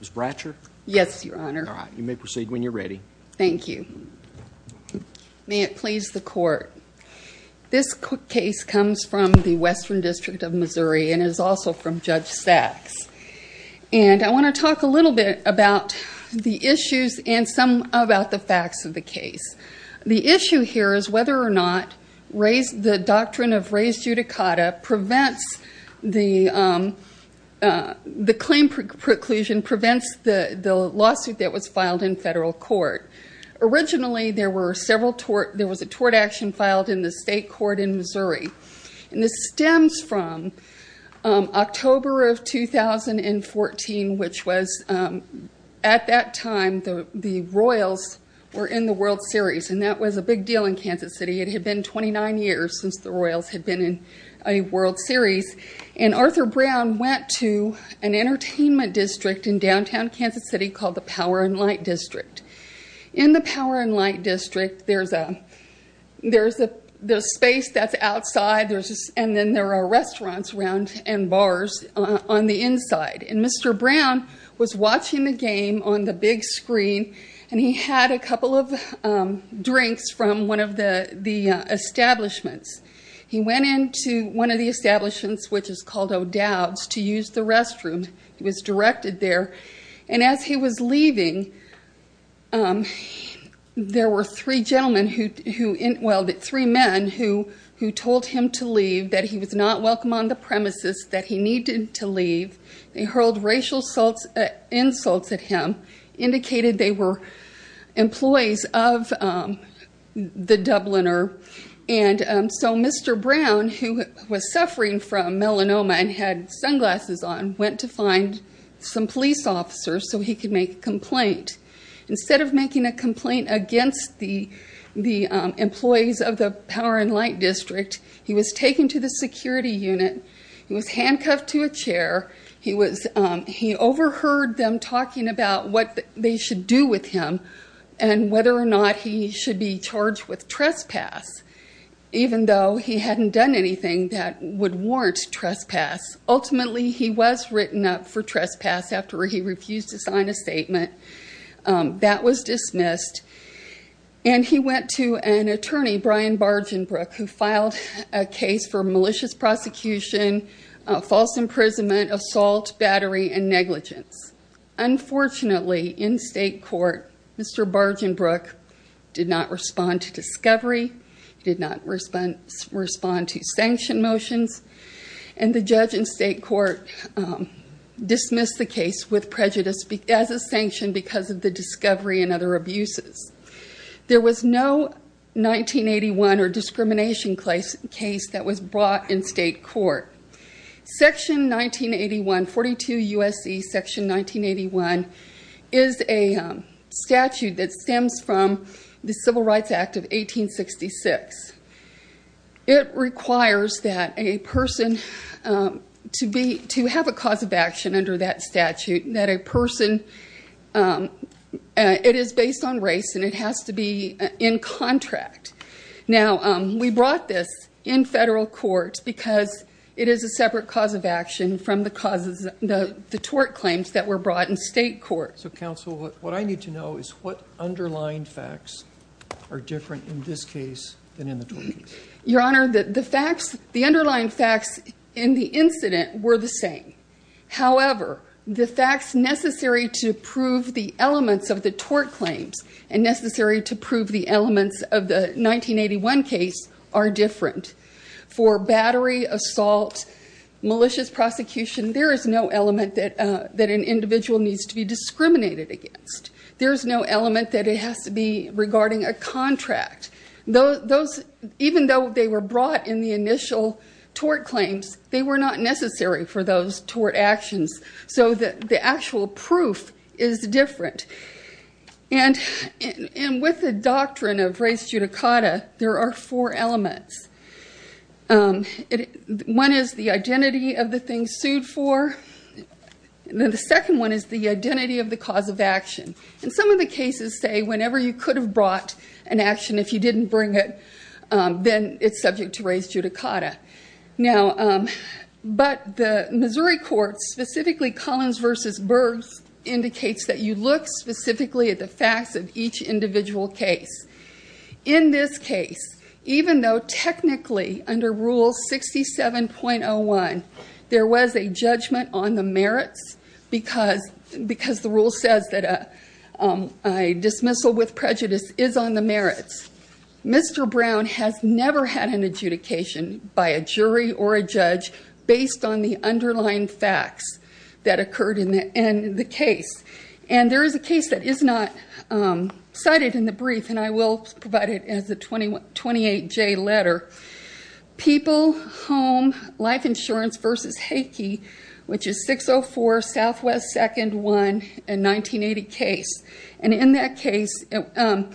Mr. Bratcher, you may proceed when you are ready. Thank you. May it please the court. This case comes from the Western District of Missouri and is also from Judge Sachs. And I want to talk a little bit about the issues and some about the facts of the case. The issue here is whether or not the doctrine of res judicata prevents the claim preclusion, prevents the lawsuit that was filed in federal court. Originally, there was a tort action filed in the state court in Missouri, and this stems from October of 2014, which was at that time the Royals were in the World Series, and that was a big deal in Kansas City. It had been 29 years since the Royals had been in a World Series. And Arthur Brown went to an entertainment district in downtown Kansas City called the Power and Light District. In the Power and Light District, there's a space that's outside, and then there are restaurants around and bars on the inside. And Mr. Brown was watching the game on the big screen, and he had a couple of drinks from one of the establishments. He went into one of the establishments, which is called O'Dowd's, to use the restroom. He was directed there. And as he was leaving, there were three men who told him to leave, that he was not welcome on the premises, that he needed to leave. They hurled racial insults at him, indicated they were employees of the Dubliner. And so Mr. Brown, who was suffering from melanoma and had sunglasses on, went to find some police officers so he could make a complaint. Instead of making a complaint against the employees of the Power and Light District, he was taken to the security unit. He was handcuffed to a chair. He overheard them talking about what they should do with him and whether or not he should be charged with trespass, even though he hadn't done anything that would warrant trespass. Ultimately, he was written up for trespass after he refused to sign a statement. That was dismissed. And he went to an attorney, Brian Bargenbrook, who filed a case for malicious prosecution, false imprisonment, assault, battery, and negligence. Unfortunately, in state court, Mr. Bargenbrook did not respond to discovery, did not respond to sanction motions, and the judge in state court dismissed the case with prejudice as a sanction because of the discovery and other abuses. There was no 1981 or discrimination case that was brought in state court. Section 1981, 42 U.S.C. Section 1981, is a statute that stems from the Civil Rights Act of 1866. It requires that a person to have a cause of action under that statute, that a person – it is based on race and it has to be in contract. Now, we brought this in federal court because it is a separate cause of action from the tort claims that were brought in state court. So, counsel, what I need to know is what underlying facts are different in this case than in the tort case? Your Honor, the facts – the underlying facts in the incident were the same. However, the facts necessary to prove the elements of the tort claims and necessary to prove the elements of the 1981 case are different. For battery, assault, malicious prosecution, there is no element that an individual needs to be discriminated against. There is no element that it has to be regarding a contract. Even though they were brought in the initial tort claims, they were not necessary for those tort actions. So, the actual proof is different. And with the doctrine of race judicata, there are four elements. One is the identity of the thing sued for. The second one is the identity of the cause of action. In some of the cases, say, whenever you could have brought an action, if you didn't bring it, then it's subject to race judicata. Now, but the Missouri courts, specifically Collins v. Burgs, indicates that you look specifically at the facts of each individual case. In this case, even though technically under Rule 67.01 there was a judgment on the merits because the rule says that a dismissal with prejudice is on the merits, Mr. Brown has never had an adjudication by a jury or a judge based on the underlying facts that occurred in the case. And there is a case that is not cited in the brief, and I will provide it as a 28-J letter, People Home Life Insurance v. Heike, which is 604 Southwest 2nd 1 in 1980 case. And in that case, that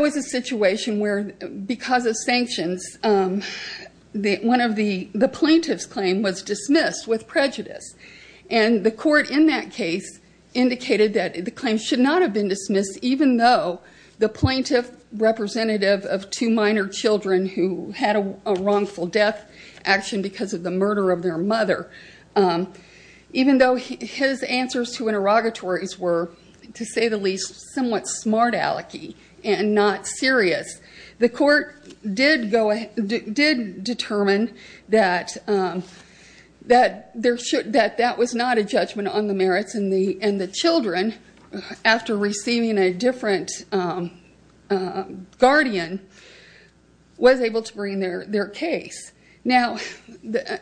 was a situation where, because of sanctions, one of the plaintiff's claim was dismissed with prejudice. And the court in that case indicated that the claim should not have been dismissed even though the plaintiff representative of two minor children who had a wrongful death action because of the murder of their mother, even though his answers to interrogatories were, to say the least, somewhat smart-alecky and not serious. The court did determine that that was not a judgment on the merits, and the children, after receiving a different guardian, was able to bring their case. Now,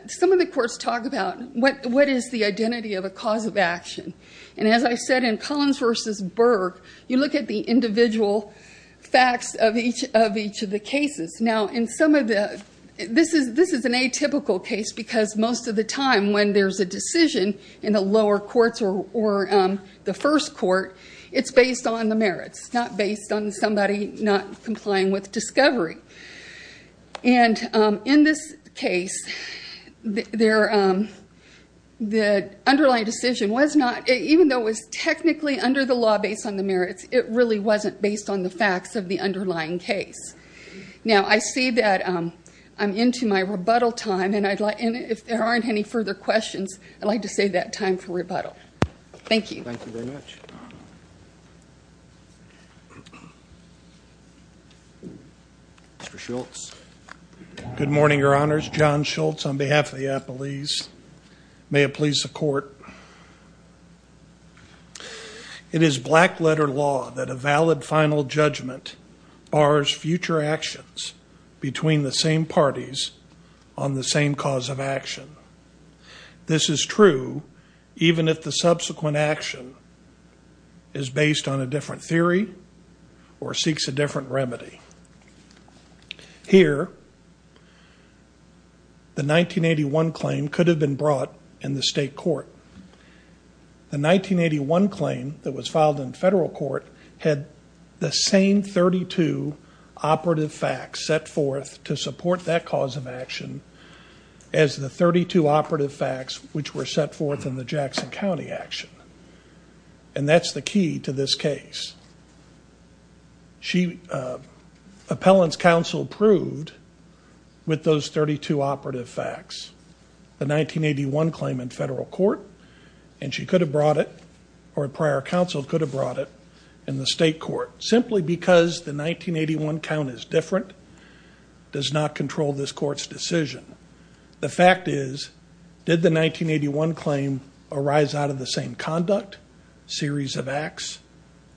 some of the courts talk about what is the identity of a cause of action. And as I said, in Collins v. Berg, you look at the individual facts of each of the cases. Now, this is an atypical case because most of the time when there's a decision in the lower courts or the first court, it's based on the merits, not based on somebody not complying with discovery. And in this case, the underlying decision was not, even though it was technically under the law based on the merits, it really wasn't based on the facts of the underlying case. Now, I see that I'm into my rebuttal time, and if there aren't any further questions, I'd like to save that time for rebuttal. Thank you. Thank you very much. Mr. Schultz. Good morning, Your Honors. John Schultz on behalf of the Appalese. May it please the Court. It is black-letter law that a valid final judgment bars future actions between the same parties on the same cause of action. This is true even if the subsequent action is based on a different theory or seeks a Here, the 1981 claim could have been brought in the state court. The 1981 claim that was filed in federal court had the same 32 operative facts set forth to support that cause of action as the 32 operative facts which were set forth in the Jackson County action. And that's the key to this case. Appellant's counsel proved with those 32 operative facts the 1981 claim in federal court, and she could have brought it, or a prior counsel could have brought it, in the state court. Simply because the 1981 count is different does not control this court's decision. The fact is, did the 1981 claim arise out of the same conduct, series of acts,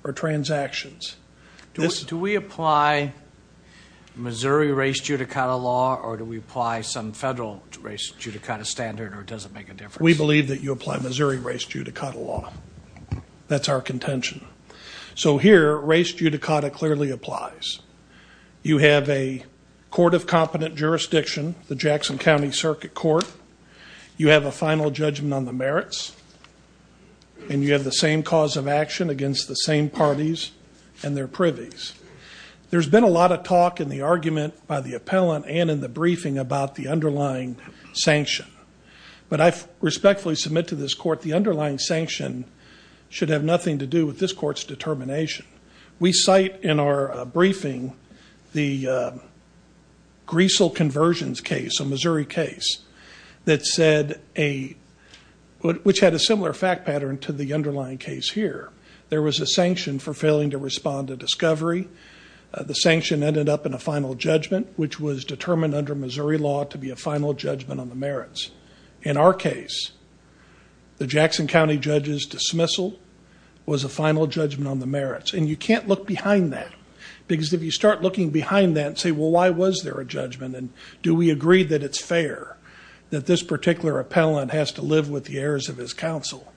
or transactions? Do we apply Missouri race judicata law or do we apply some federal race judicata standard or does it make a difference? We believe that you apply Missouri race judicata law. That's our contention. So here, race judicata clearly applies. You have a court of competent jurisdiction, the Jackson County Circuit Court. You have a final judgment on the merits, and you have the same cause of action against the same parties and their privies. There's been a lot of talk in the argument by the appellant and in the briefing about the underlying sanction, but I respectfully submit to this court the underlying sanction should have nothing to do with this court's determination. We cite in our briefing the Greasel Conversions case, a Missouri case, which had a similar fact pattern to the underlying case here. There was a sanction for failing to respond to discovery. The sanction ended up in a final judgment, which was determined under Missouri law to be a final judgment on the merits. In our case, the Jackson County judge's dismissal was a final judgment on the merits, and you can't look behind that because if you start looking behind that and say, well, why was there a judgment, and do we agree that it's fair that this particular appellant has to live with the errors of his counsel,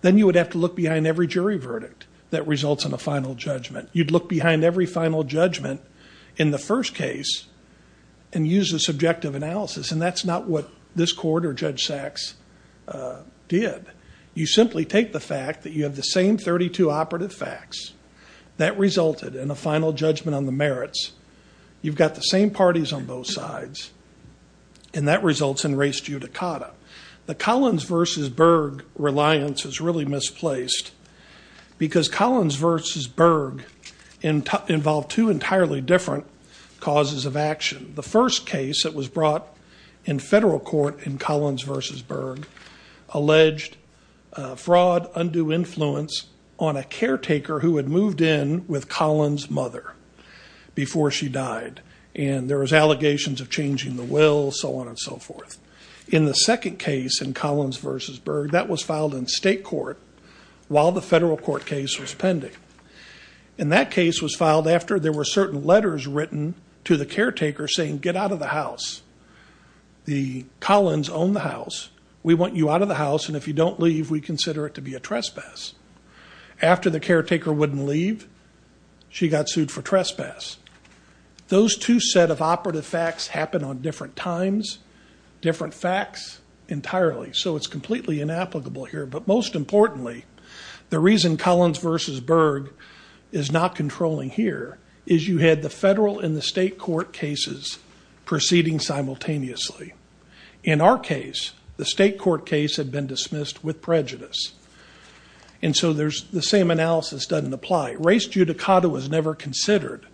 then you would have to look behind every jury verdict that results in a final judgment. You'd look behind every final judgment in the first case and use a subjective analysis, and that's not what this court or Judge Sachs did. You simply take the fact that you have the same 32 operative facts that resulted in a final judgment on the merits. You've got the same parties on both sides, and that results in res judicata. The Collins versus Berg reliance is really misplaced because Collins versus Berg involved two entirely different causes of action. The first case that was brought in federal court in Collins versus Berg alleged fraud, undue influence on a caretaker who had moved in with Collins' mother before she died, and there was allegations of changing the will, so on and so forth. In the second case in Collins versus Berg, that was filed in state court while the federal court case was pending, and that case was filed after there were certain letters written to the caretaker saying, get out of the house. The Collins owned the house. We want you out of the house, and if you don't leave, we consider it to be a trespass. After the caretaker wouldn't leave, she got sued for trespass. Those two set of operative facts happen on different times, different facts entirely, so it's completely inapplicable here. But most importantly, the reason Collins versus Berg is not controlling here is you had the state court cases proceeding simultaneously. In our case, the state court case had been dismissed with prejudice, and so the same analysis doesn't apply. Race judicata was never considered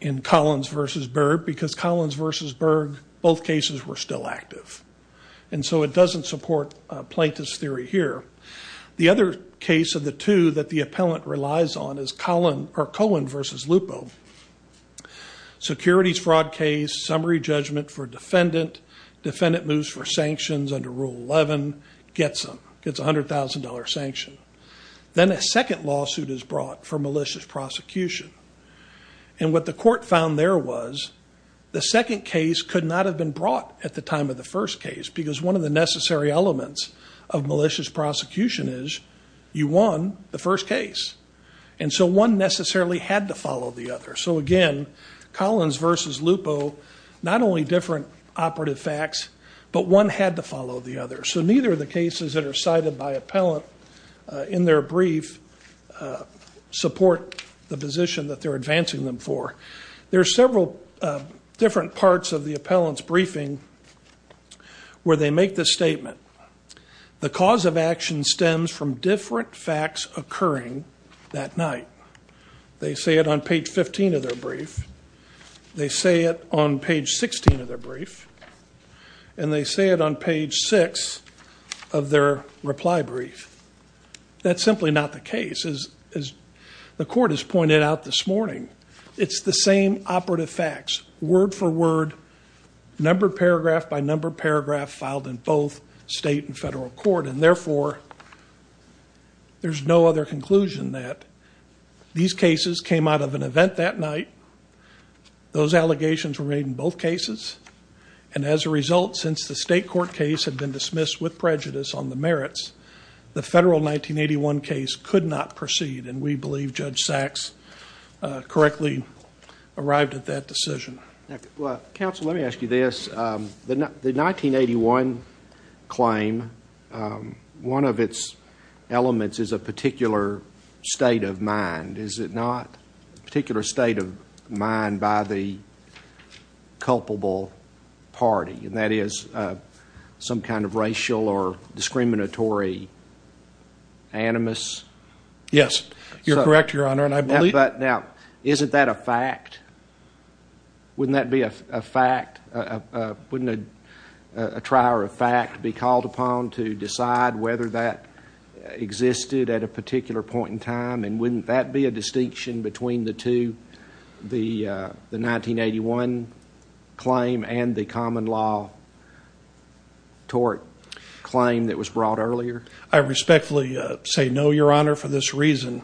in Collins versus Berg because Collins versus Berg, both cases were still active, and so it doesn't support plaintiff's theory here. The other case of the two that the appellant relies on is Cohen versus Lupo. Securities fraud case, summary judgment for defendant, defendant moves for sanctions under Rule 11, gets $100,000 sanction. Then a second lawsuit is brought for malicious prosecution, and what the court found there was the second case could not have been brought at the time of the first case because one of the necessary elements of malicious prosecution is you won the first case, and so one necessarily had to follow the other. So again, Collins versus Lupo, not only different operative facts, but one had to follow the other. So neither of the cases that are cited by appellant in their brief support the position that they're advancing them for. There are several different parts of the appellant's briefing where they make the statement. The cause of action stems from different facts occurring that night. They say it on page 15 of their brief. They say it on page 16 of their brief, and they say it on page 6 of their reply brief. That's simply not the case. As the court has pointed out this morning, it's the same operative facts, word for word, number paragraph by number paragraph filed in both state and federal court, and therefore there's no other conclusion that these cases came out of an event that night. Those allegations were made in both cases, and as a result, since the state court case had been dismissed with prejudice on the merits, the federal 1981 case could not proceed, and we believe Judge Sachs correctly arrived at that decision. Counsel, let me ask you this. The 1981 claim, one of its elements is a particular state of mind. Is it not a particular state of mind by the culpable party? And that is some kind of racial or discriminatory animus? Yes, you're correct, Your Honor, and I believe- But now, isn't that a fact? Wouldn't that be a fact, wouldn't a trier of fact be called upon to decide whether that existed at a particular point in time, and wouldn't that be a distinction between the two, the 1981 claim and the common law tort claim that was brought earlier? I respectfully say no, Your Honor, for this reason.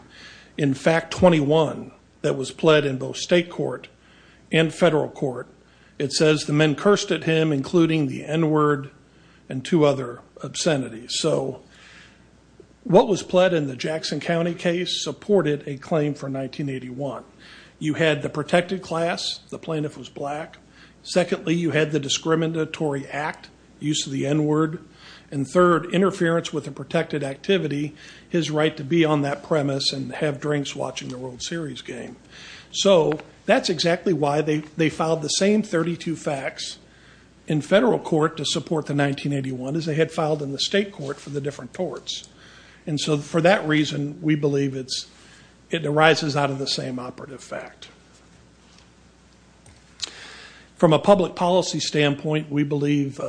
In fact, 21 that was pled in both state court and federal court, it says the men cursed at him, including the N word and two other obscenities. So what was pled in the Jackson County case supported a claim for 1981. You had the protected class, the plaintiff was black. Secondly, you had the discriminatory act, use of the N word. And third, interference with a protected activity, his right to be on that premise and have drinks watching the World Series game. So that's exactly why they filed the same 32 facts in federal court to support the 1981 as they had filed in the state court for the different torts. And so for that reason, we believe it arises out of the same operative fact. From a public policy standpoint, we believe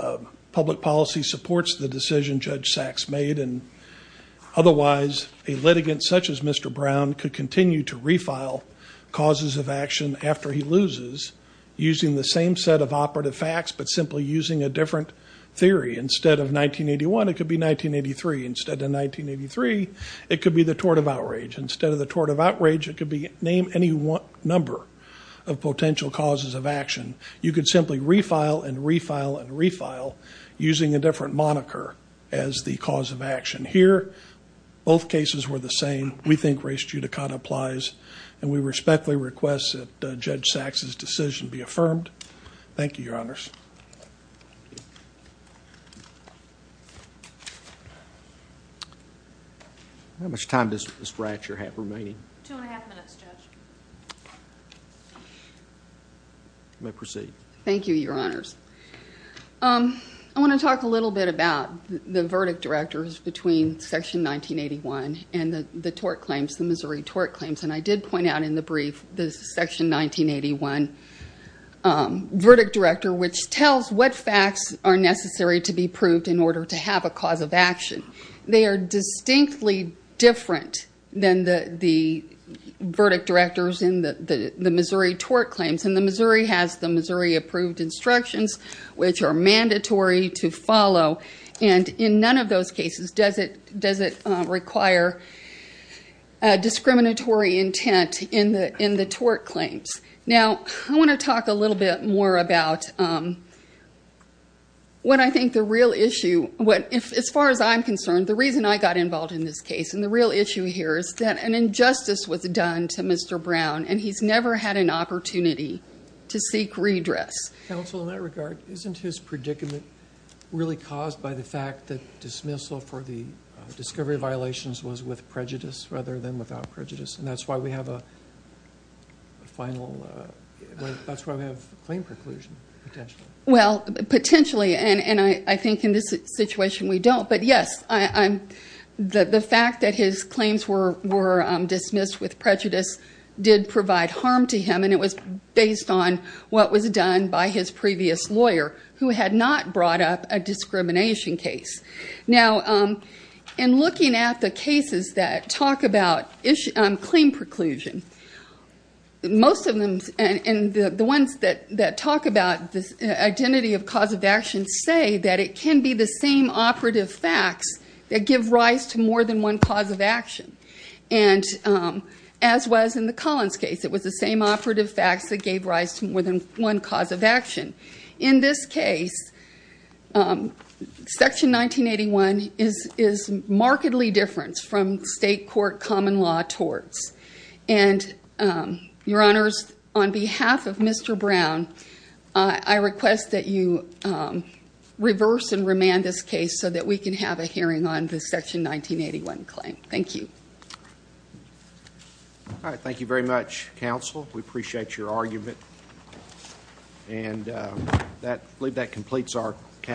public policy supports the decision Judge Sachs made and otherwise a litigant such as Mr. Brown could continue to refile causes of action after he loses using the same set of operative facts, but simply using a different theory. Instead of 1981, it could be 1983. Instead of 1983, it could be the tort of outrage. Instead of the tort of outrage, it could be name any number of potential causes of action. You could simply refile and refile and refile using a different moniker as the cause of action. Here, both cases were the same. We think race judicata applies and we respectfully request that Judge Sachs' decision be affirmed. Thank you, your honors. How much time does Ms. Ratcher have remaining? Two and a half minutes, Judge. You may proceed. Thank you, your honors. I want to talk a little bit about the verdict directors between section 1981 and the tort claims, the Missouri tort claims. And I did point out in the brief, the section 1981 verdict director, which tells what facts are necessary to be proved in order to have a cause of action. They are distinctly different than the verdict directors in the Missouri tort claims. And the Missouri has the Missouri approved instructions, which are mandatory to follow. And in none of those cases does it require discriminatory intent in the tort claims. Now, I want to talk a little bit more about what I think the real issue, as far as I'm concerned, the reason I got involved in this case and the real issue here is that an injustice was done to Mr. Brown and he's never had an opportunity to seek redress. Counsel, in that regard, isn't his predicament really caused by the fact that dismissal for the discovery violations was with prejudice rather than without prejudice? And that's why we have a claim preclusion, potentially. Well, potentially. And I think in this situation, we don't. But yes, the fact that his claims were dismissed with prejudice did provide harm to him. And it was based on what was done by his previous lawyer, who had not brought up a discrimination case. Now, in looking at the cases that talk about claim preclusion, most of them and the ones that talk about the identity of cause of action say that it can be the same operative facts that give rise to more than one cause of action. And as was in the Collins case, it was the same operative facts that gave rise to more than one cause of action. In this case, Section 1981 is markedly different from state court common law torts. And, Your Honors, on behalf of Mr. Brown, I request that you reverse and remand this case so that we can have a hearing on the Section 1981 claim. Thank you. All right. Thank you very much, Counsel. We appreciate your argument. And I believe that completes our counsel.